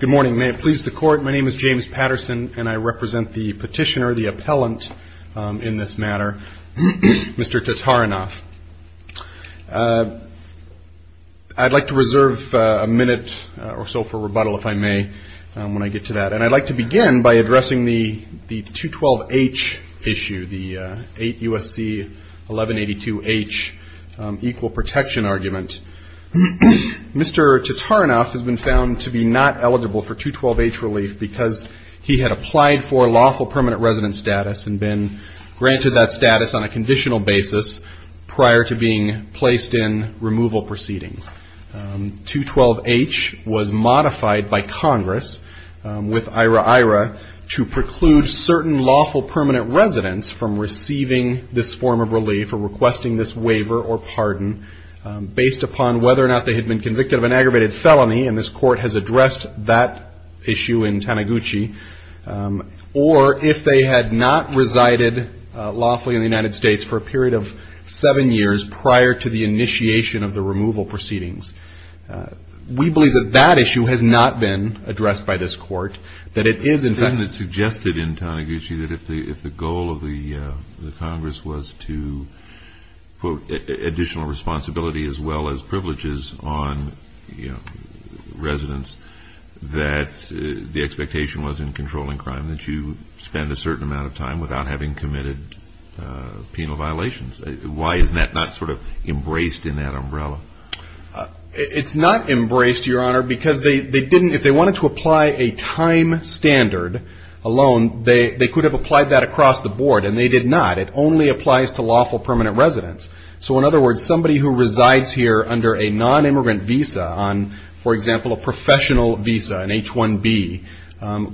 Good morning. May it please the court, my name is James Patterson, and I represent the petitioner, the appellant in this matter, Mr. Tatarinov. I'd like to reserve a minute or so for rebuttal, if I may, when I get to that. And I'd like to begin by addressing the 212H issue, the 8 USC 1182H equal protection argument. Mr. Tatarinov has been found to be not eligible for 212H relief because he had applied for lawful permanent resident status and been granted that status on a conditional basis prior to being placed in removal proceedings. 212H was modified by Congress with IRA-IRA to preclude certain lawful permanent residents from receiving this form of relief for requesting this waiver or pardon based upon whether or not they had been convicted of an aggravated felony, and this court has addressed that issue in Taniguchi, or if they had not resided lawfully in the United States for a period of seven years prior to the initiation of the removal proceedings. We believe that that issue has not been addressed by this court, that it is in fact And it's suggested in Taniguchi that if the goal of the Congress was to put additional responsibility as well as privileges on residents, that the expectation was in controlling crime, that you spend a certain amount of time without having committed penal violations. Why is that not sort of embraced in that umbrella? It's not embraced, Your Honor, because if they wanted to apply a time standard alone, they could have applied that across the board, and they did not. It only applies to lawful permanent residents. So in other words, somebody who resides here under a non-immigrant visa on, for example, a professional visa, an H-1B,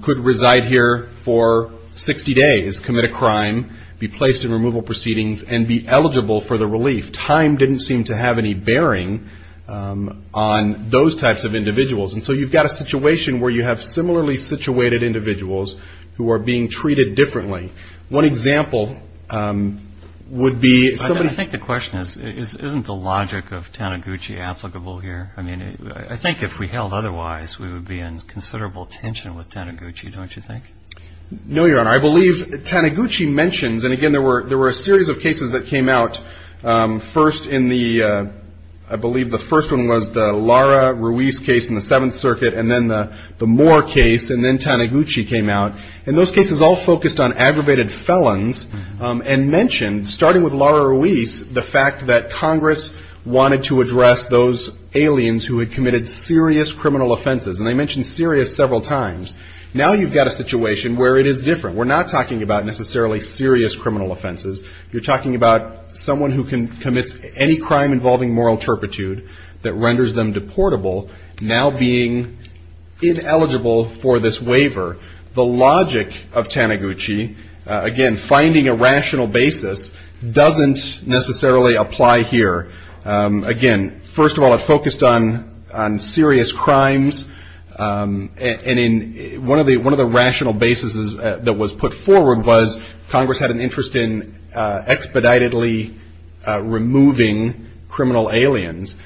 could reside here for 60 days, commit a crime, be placed in removal proceedings, and be eligible for the relief. Time didn't seem to have any bearing on those types of individuals. And so you've got a situation where you have similarly situated individuals who are being treated differently. One example would be somebody. I think the question is, isn't the logic of Taniguchi applicable here? I mean, I think if we held otherwise, we would be in considerable tension with Taniguchi, don't you think? No, Your Honor. I believe Taniguchi mentions, and again, there were a series of cases that came out first in the, I believe the first one was the Lara Ruiz case in the Seventh Circuit, and then the Moore case, and then Taniguchi came out. And those cases all focused on aggravated felons and mentioned, starting with Lara Ruiz, the fact that Congress wanted to address those aliens who had committed serious criminal offenses. And they mentioned serious several times. Now you've got a situation where it is different. We're not talking about necessarily serious criminal offenses. You're talking about someone who commits any crime involving moral turpitude that renders them deportable, now being ineligible for this waiver. The logic of Taniguchi, again, finding a rational basis, doesn't necessarily apply here. Again, first of all, it focused on serious crimes. One of the rational bases that was put forward was Congress had an interest in expeditedly removing criminal aliens.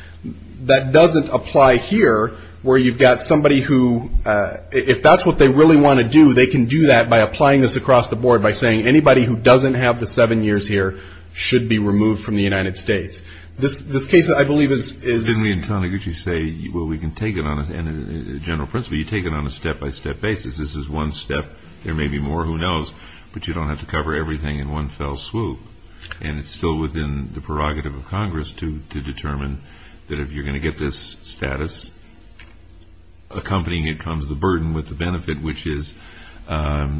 That doesn't apply here, where you've got somebody who, if that's what they really want to do, they can do that by applying this across the board by saying, anybody who doesn't have the seven years here should be removed from the United States. This case, I believe, is- Didn't we, in Taniguchi, say, well, we can take it on a general principle? You take it on a step-by-step basis. This is one step. There may be more. Who knows? But you don't have to cover everything in one fell swoop. And it's still within the prerogative of Congress to determine that if you're going to get this status accompanying it comes the burden with the benefit, which is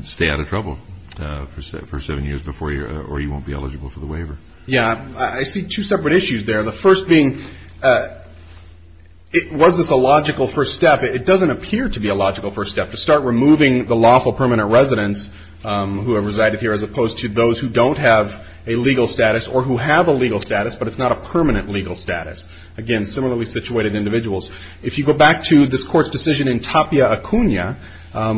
stay out of trouble for seven years before, or you won't be eligible for the waiver. Yeah, I see two separate issues there. The first being, was this a logical first step? It doesn't appear to be a logical first step to start removing the lawful permanent residents who have resided here, as opposed to those who don't have a legal status or who have a legal status, but it's not a permanent legal status. Again, similarly situated individuals. If you go back to this court's decision in Tapia, Acuna,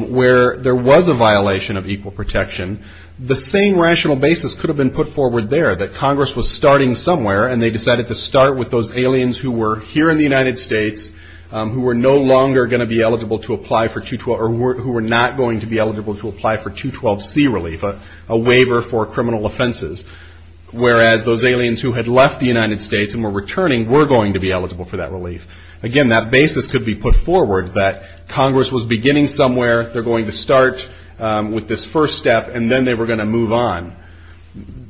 where there was a violation of equal protection, the same rational basis could have been put forward there, that Congress was starting somewhere, and they decided to start with those aliens who were here in the United States, who were no longer going to be eligible to apply for 212, or who were not going to be eligible to apply for 212C relief, a waiver for criminal offenses. Whereas those aliens who had left the United States and were returning were going to be eligible for that relief. Again, that basis could be put forward, that Congress was beginning somewhere, they're going to start with this first step, and then they were going to move on.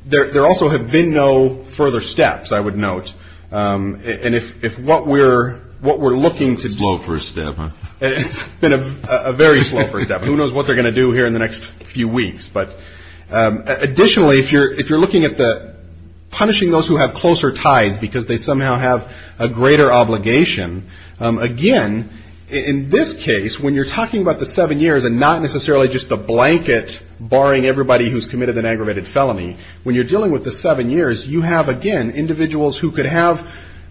There also have been no further steps, I would note. And if what we're looking to do- Slow first step, huh? It's been a very slow first step. Who knows what they're going to do here in the next few weeks. But additionally, if you're looking at punishing those who have closer ties, because they somehow have a greater obligation, again, in this case, when you're talking about the seven years and not necessarily just the blanket barring everybody who's committed an aggravated felony, when you're dealing with the seven years, you have, again, individuals who could have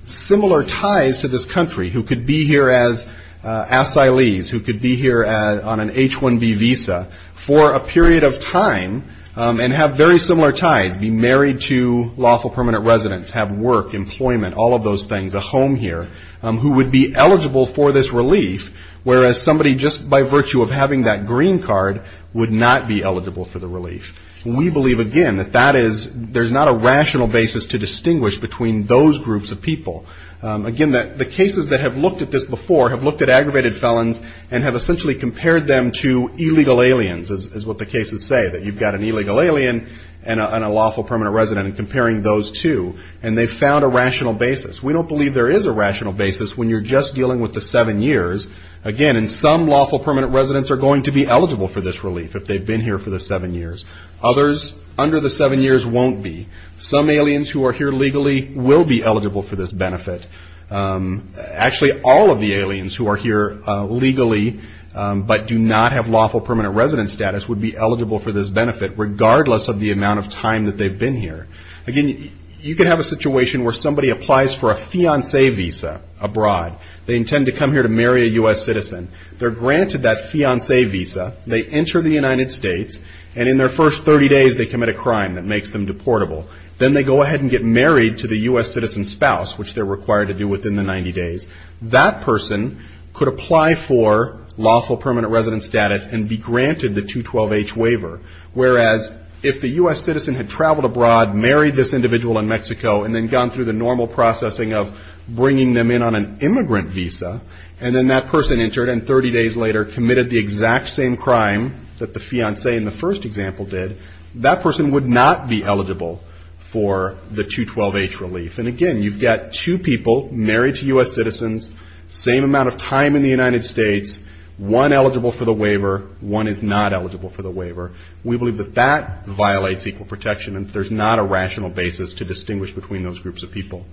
similar ties to this country, who could be here as asylees, who could be here on an H-1B visa for a period of time, and have very similar ties, be married to lawful permanent residents, have work, employment, all of those things, a home here, who would be eligible for this relief, whereas somebody just by virtue of having that green card would not be eligible for the relief. We believe, again, that that is, there's not a rational basis to distinguish between those groups of people. Again, the cases that have looked at this before have looked at aggravated felons and have essentially compared them to illegal aliens, is what the cases say, that you've got an illegal alien and a lawful permanent resident, and comparing those two, and they found a rational basis. We don't believe there is a rational basis when you're just dealing with the seven years. Again, and some lawful permanent residents are going to be eligible for this relief if they've been here for the seven years. Others, under the seven years, won't be. Some aliens who are here legally will be eligible for this benefit. Actually, all of the aliens who are here legally, but do not have lawful permanent resident status would be eligible for this benefit, regardless of the amount of time that they've been here. Again, you could have a situation where somebody applies for a fiancee visa abroad. They intend to come here to marry a US citizen. They're granted that fiancee visa. They enter the United States, and in their first 30 days, they commit a crime that makes them deportable. Then they go ahead and get married to the US citizen's spouse, which they're required to do within the 90 days. That person could apply for lawful permanent resident status and be granted the 212H waiver, whereas if the US citizen had traveled abroad, married this individual in Mexico, and then gone through the normal processing of bringing them in on an immigrant visa, and then that person entered, and 30 days later, committed the exact same crime that the fiancee in the first example did, that person would not be eligible for the 212H relief. And again, you've got two people married to US citizens, same amount of time in the United States, one eligible for the waiver, one is not eligible for the waiver. We believe that that violates equal protection, and there's not a rational basis to distinguish between those groups of people.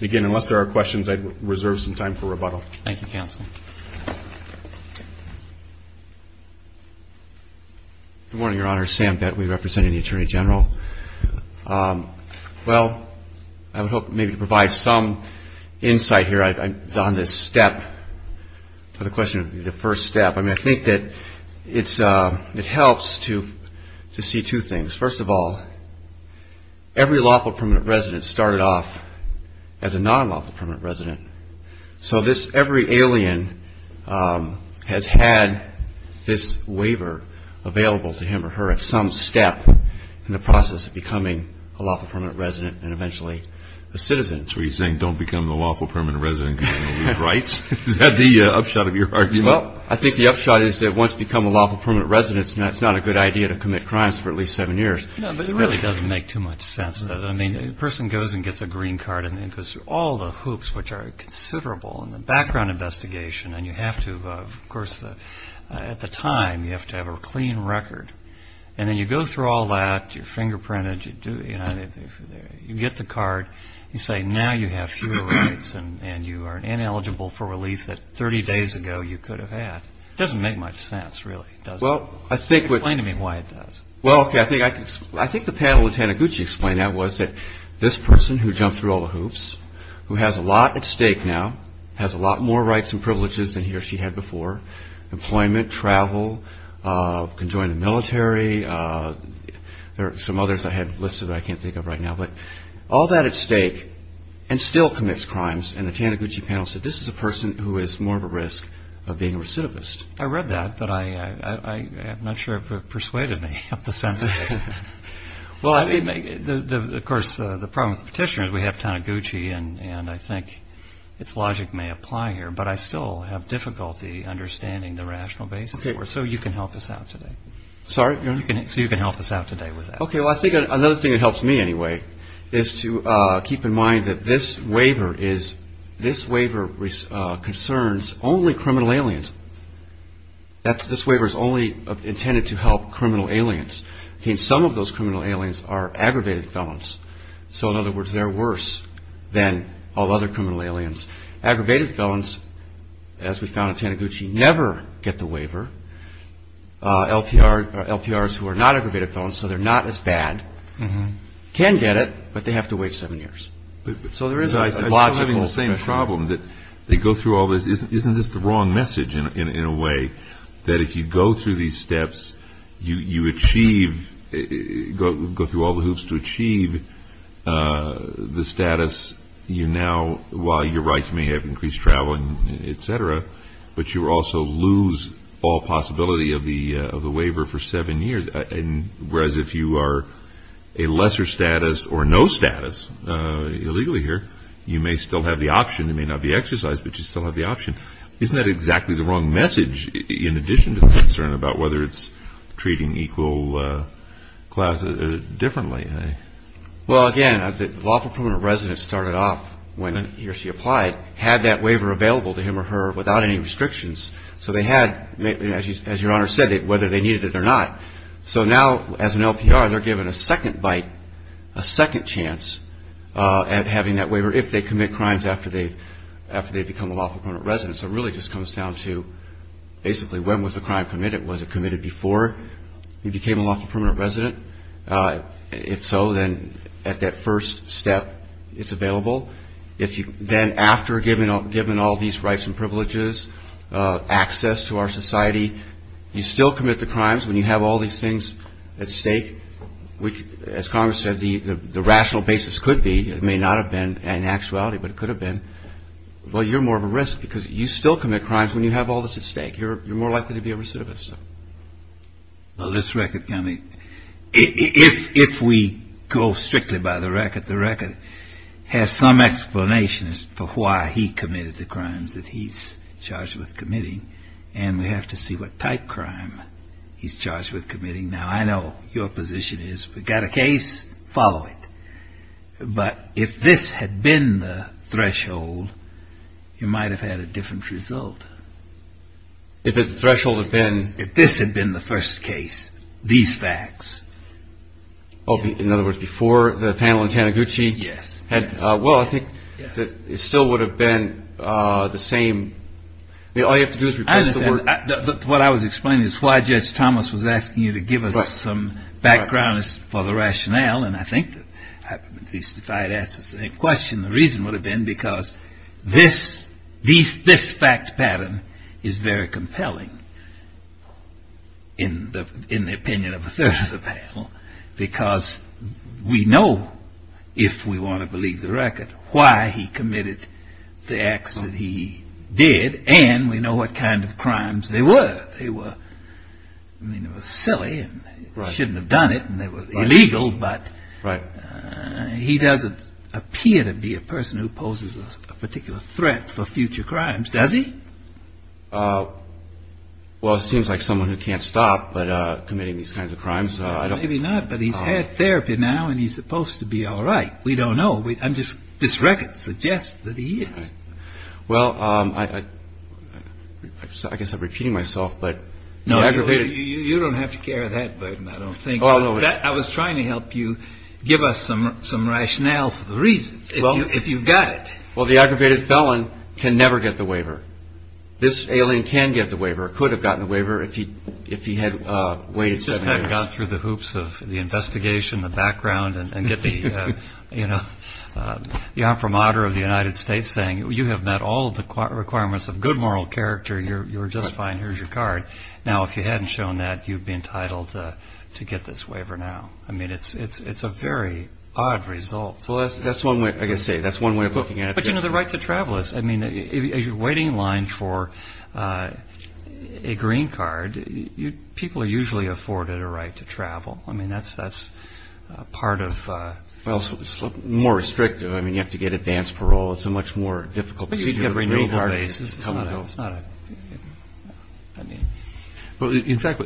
Again, unless there are questions, I'd reserve some time for rebuttal. Thank you, Counsel. Good morning, Your Honor. Sam Bett, we represent the Attorney General. Well, I would hope maybe to provide some insight here on this step, or the question of the first step. I mean, I think that it helps to see two things. First of all, every lawful permanent resident started off as a non-lawful permanent resident, so every alien has had this waiver available to him or her at some step, in the process of becoming a lawful permanent resident, and eventually a citizen. So you're saying, don't become a lawful permanent resident because you don't have these rights? Is that the upshot of your argument? Well, I think the upshot is that once you become a lawful permanent resident, it's not a good idea to commit crimes for at least seven years. No, but it really doesn't make too much sense. I mean, a person goes and gets a green card, and then goes through all the hoops, which are considerable, and the background investigation, and you have to, of course, at the time, you have to have a clean record. And then you go through all that, you're fingerprinted, you get the card, you say, now you have fewer rights, and you are ineligible for relief that 30 days ago you could have had. Doesn't make much sense, really, does it? Explain to me why it does. Well, okay, I think the panel Lieutenant Gucci explained that was that this person who jumped through all the hoops, who has a lot at stake now, has a lot more rights and privileges than he or she had before, employment, travel, conjoined military, there are some others I have listed that I can't think of right now, but all that at stake, and still commits crimes, and the Taniguchi panel said, this is a person who is more of a risk of being a recidivist. I read that, but I'm not sure it persuaded me of the sense of it. Well, I mean, of course, the problem with petitioners, we have Taniguchi, and I think its logic may apply here, but I still have difficulty understanding the rational basis for it. So you can help us out today. Sorry? So you can help us out today with that. Okay, well, I think another thing that helps me anyway is to keep in mind that this waiver is, this waiver concerns only criminal aliens. This waiver is only intended to help criminal aliens. Okay, and some of those criminal aliens are aggravated felons. So in other words, they're worse than all other criminal aliens. Aggravated felons, as we found in Taniguchi, never get the waiver. LPRs who are not aggravated felons, so they're not as bad, can get it, but they have to wait seven years. So there is a logical- I'm still having the same problem, that they go through all this. Isn't this the wrong message, in a way, that if you go through these steps, you achieve, go through all the hoops to achieve the status you now, while you're right, you may have increased traveling, et cetera, but you also lose all possibility of the waiver for seven years, whereas if you are a lesser status, or no status, illegally here, you may still have the option. It may not be exercised, but you still have the option. Isn't that exactly the wrong message, in addition to the concern about whether it's treating equal class differently? Well, again, lawful permanent residents started off when he or she applied, had that waiver available to him or her without any restrictions. So they had, as your Honor said, whether they needed it or not. So now, as an LPR, they're given a second bite, a second chance at having that waiver, if they commit crimes after they've become a lawful permanent resident. So it really just comes down to, basically, when was the crime committed? Was it committed before he became a lawful permanent resident? If so, then at that first step, it's available. Then after, given all these rights and privileges, access to our society, you still commit the crimes when you have all these things at stake, which, as Congress said, the rational basis could be, it may not have been an actuality, but it could have been, well, you're more of a risk, because you still commit crimes when you have all this at stake. You're more likely to be a recidivist. Well, this record, if we go strictly by the record, the record has some explanations for why he committed the crimes that he's charged with committing. And we have to see what type crime he's charged with committing. Now, I know your position is, we got a case, follow it. But if this had been the threshold, you might have had a different result. If the threshold had been- If this had been the first case, these facts. Oh, in other words, before the panel in Taniguchi? Yes. Well, I think that it still would have been the same. All you have to do is replace the word- What I was explaining is why Judge Thomas was asking you to give us some background for the rationale, and I think that, at least if I had asked the same question, the reason would have been because this fact pattern is very compelling in the opinion of a third of the panel, because we know, if we want to believe the record, why he committed the acts that he did, and we know what kind of crimes they were. They were, I mean, it was silly, and they shouldn't have done it, and they were illegal, but he doesn't appear to be a person who poses a particular threat for future crimes, does he? Well, it seems like someone who can't stop but committing these kinds of crimes. Maybe not, but he's had therapy now, and he's supposed to be all right. We don't know. I'm just, this record suggests that he is. Well, I guess I'm repeating myself, but- No, you don't have to carry that burden, I don't think. I was trying to help you give us some rationale for the reasons, if you've got it. Well, the aggravated felon can never get the waiver. This alien can get the waiver, could have gotten the waiver if he had waited seven years. You've gone through the hoops of the investigation, the background, and get the, you know, the imprimatur of the United States saying, you have met all of the requirements of good moral character, you're just fine, here's your card. Now, if you hadn't shown that, you'd be entitled to get this waiver now. I mean, it's a very odd result. Well, that's one way, I guess I say, that's one way of looking at it. But you know, the right to travel is, I mean, if you're waiting in line for a green card, people are usually afforded a right to travel. I mean, that's part of- Well, it's more restrictive. I mean, you have to get advanced parole. It's a much more difficult procedure. But you'd get a green card- It's not a, it's not a, I mean. Well, in fact-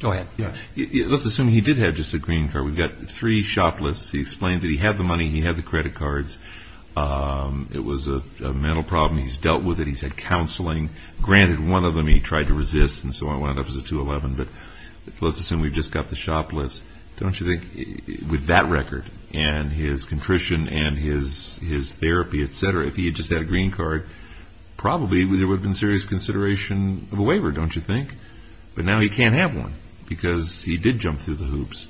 Go ahead. Yeah, let's assume he did have just a green card. We've got three shop lists. He explains that he had the money, he had the credit cards. It was a mental problem. He's dealt with it, he's had counseling. Granted, one of them he tried to resist, and so on, one of them was a 211. But let's assume we've just got the shop list. Don't you think, with that record, and his contrition, and his therapy, et cetera, if he had just had a green card, probably there would have been serious consideration of a waiver, don't you think? But now he can't have one, because he did jump through the hoops.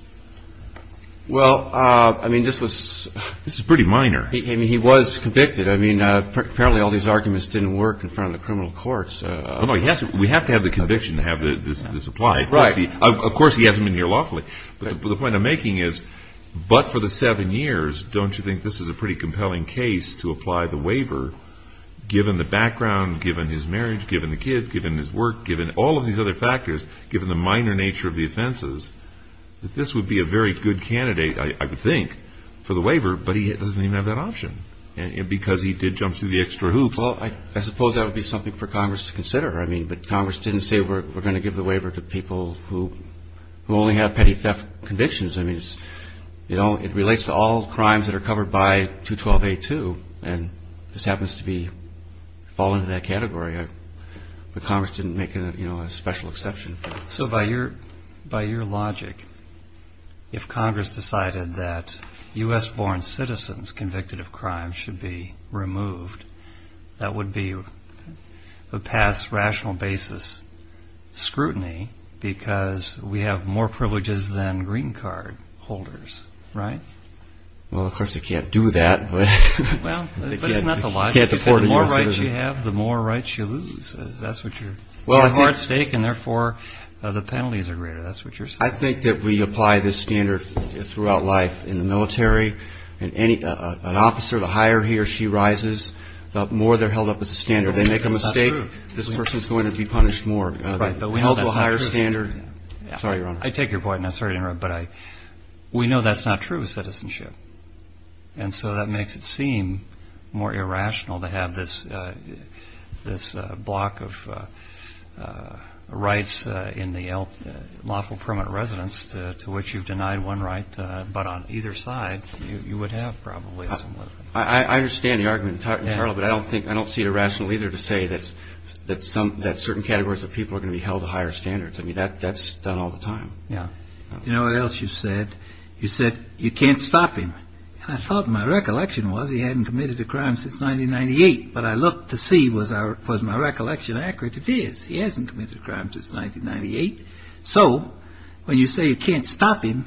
Well, I mean, this was- This is pretty minor. I mean, he was convicted. I mean, apparently all these arguments didn't work in front of the criminal courts. No, no, he has to, we have to have the conviction to have this applied. Right. Of course, he hasn't been here lawfully. But the point I'm making is, but for the seven years, don't you think this is a pretty compelling case to apply the waiver, given the background, given his marriage, given the kids, given his work, given all of these other factors, given the minor nature of the offenses, that this would be a very good candidate, I would think, for the waiver, but he doesn't even have that option, because he did jump through the extra hoops. Well, I suppose that would be something for Congress to consider. I mean, but Congress didn't say, we're gonna give the waiver to people who only have petty theft convictions. I mean, it relates to all crimes that are covered by 212A2, and this happens to fall into that category. But Congress didn't make a special exception. So by your logic, if Congress decided that U.S.-born citizens convicted of crime should be removed, that would be a past rational basis scrutiny, because we have more privileges than green card holders, right? Well, of course, they can't do that. Well, but it's not the logic. The more rights you have, the more rights you lose. That's what you're, you have a hard stake, and therefore, the penalties are greater. That's what you're saying. I think that we apply this standard throughout life in the military, and an officer, the higher he or she rises, the more they're held up as a standard. They make a mistake, this person's going to be punished more. Right, but we know that's not true. We hold to a higher standard. Sorry, Your Honor. I take your point, and I'm sorry to interrupt, but we know that's not true of citizenship. And so that makes it seem more irrational to have this block of rights in the lawful permanent residence to which you've denied one right, but on either side, you would have probably some. I understand the argument entirely, but I don't see it irrational either to say that certain categories of people are going to be held to higher standards. I mean, that's done all the time. Yeah. You know what else you said? You said, you can't stop him. I thought, my recollection was, he hadn't committed a crime since 1998, but I looked to see, was my recollection accurate? It is. He hasn't committed a crime since 1998. So, when you say you can't stop him,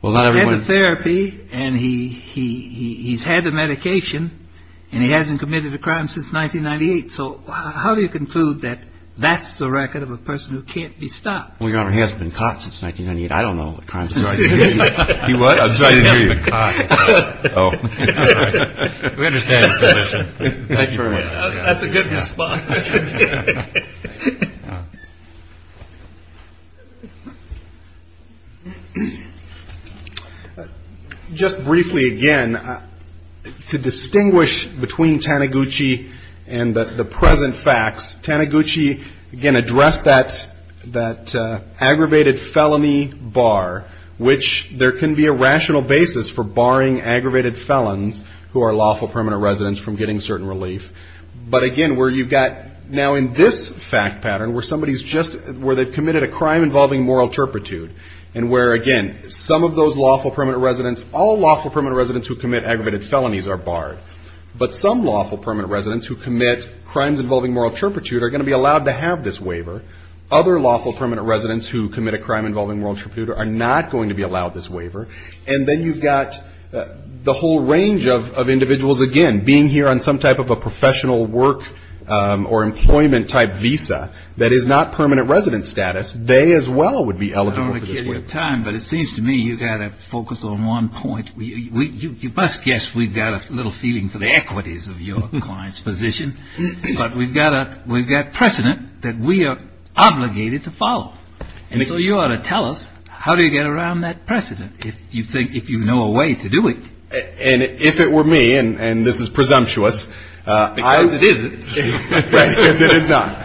he's had the therapy, and he's had the medication, and he hasn't committed a crime since 1998. So, how do you conclude that that's the record of a person who can't be stopped? Well, Your Honor, he hasn't been caught since 1998. I don't know what crimes he's been committed. He what? I'm sorry to hear you. He hasn't been caught since, oh, I'm sorry. We understand your position. Thank you very much. That's a good response. Just briefly, again, to distinguish between Taniguchi and the present facts, Taniguchi, again, addressed that aggravated felony bar, which there can be a rational basis for barring aggravated felons who are lawful permanent residents from getting certain relief. But again, where you've got, now in this fact pattern, where somebody's just, where they've committed a crime involving moral turpitude, and where, again, some of those lawful permanent residents, all lawful permanent residents who commit aggravated felonies are barred, but some lawful permanent residents who commit crimes involving moral turpitude are gonna be allowed to have this waiver. Other lawful permanent residents who commit a crime involving moral turpitude are not going to be allowed this waiver. And then you've got the whole range of individuals, again, being here on some type of a professional work or employment type visa that is not permanent resident status, they as well would be eligible for this waiver. I don't wanna kill your time, but it seems to me you gotta focus on one point. You must guess we've got a little feeling for the equities of your client's position, but we've got precedent that we are obligated to follow. And so you ought to tell us, how do you get around that precedent? If you think, if you know a way to do it. And if it were me, and this is presumptuous. Because it isn't. Right, because it is not.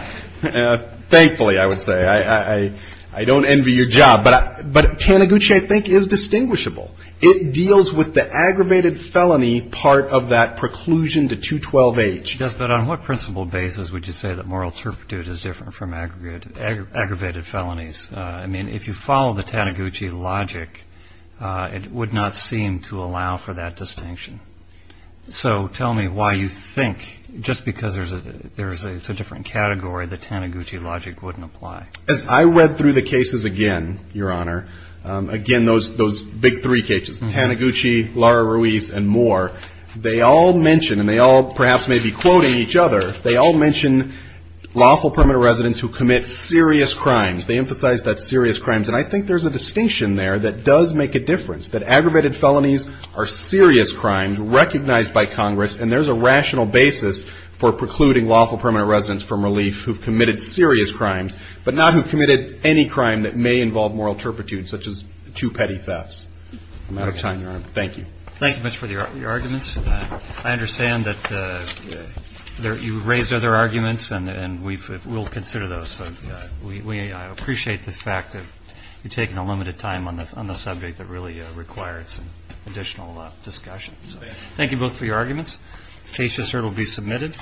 Thankfully, I would say, I don't envy your job, but Taniguchi, I think, is distinguishable. It deals with the aggravated felony part of that preclusion to 212H. Yes, but on what principle basis would you say that moral turpitude is different from aggravated felonies? I mean, if you follow the Taniguchi logic, it would not seem to allow for that distinction. So tell me why you think, just because there's a different category, the Taniguchi logic wouldn't apply. As I read through the cases again, Your Honor, again, those big three cases, Taniguchi, Laura Ruiz, and Moore, they all mention, and they all perhaps may be quoting each other, they all mention lawful permanent residents who commit serious crimes. They emphasize that serious crimes. And I think there's a distinction there that does make a difference. That aggravated felonies are serious crimes recognized by Congress, and there's a rational basis for precluding lawful permanent residents from relief who've committed serious crimes, but not who've committed any crime that may involve moral turpitude, such as two petty thefts. I'm out of time, Your Honor. Thank you. Thank you much for your arguments. I understand that you raised other arguments, and we'll consider those. So we appreciate the fact that you're taking a limited time on the subject that really requires additional discussion. So thank you both for your arguments. Case to serve will be submitted.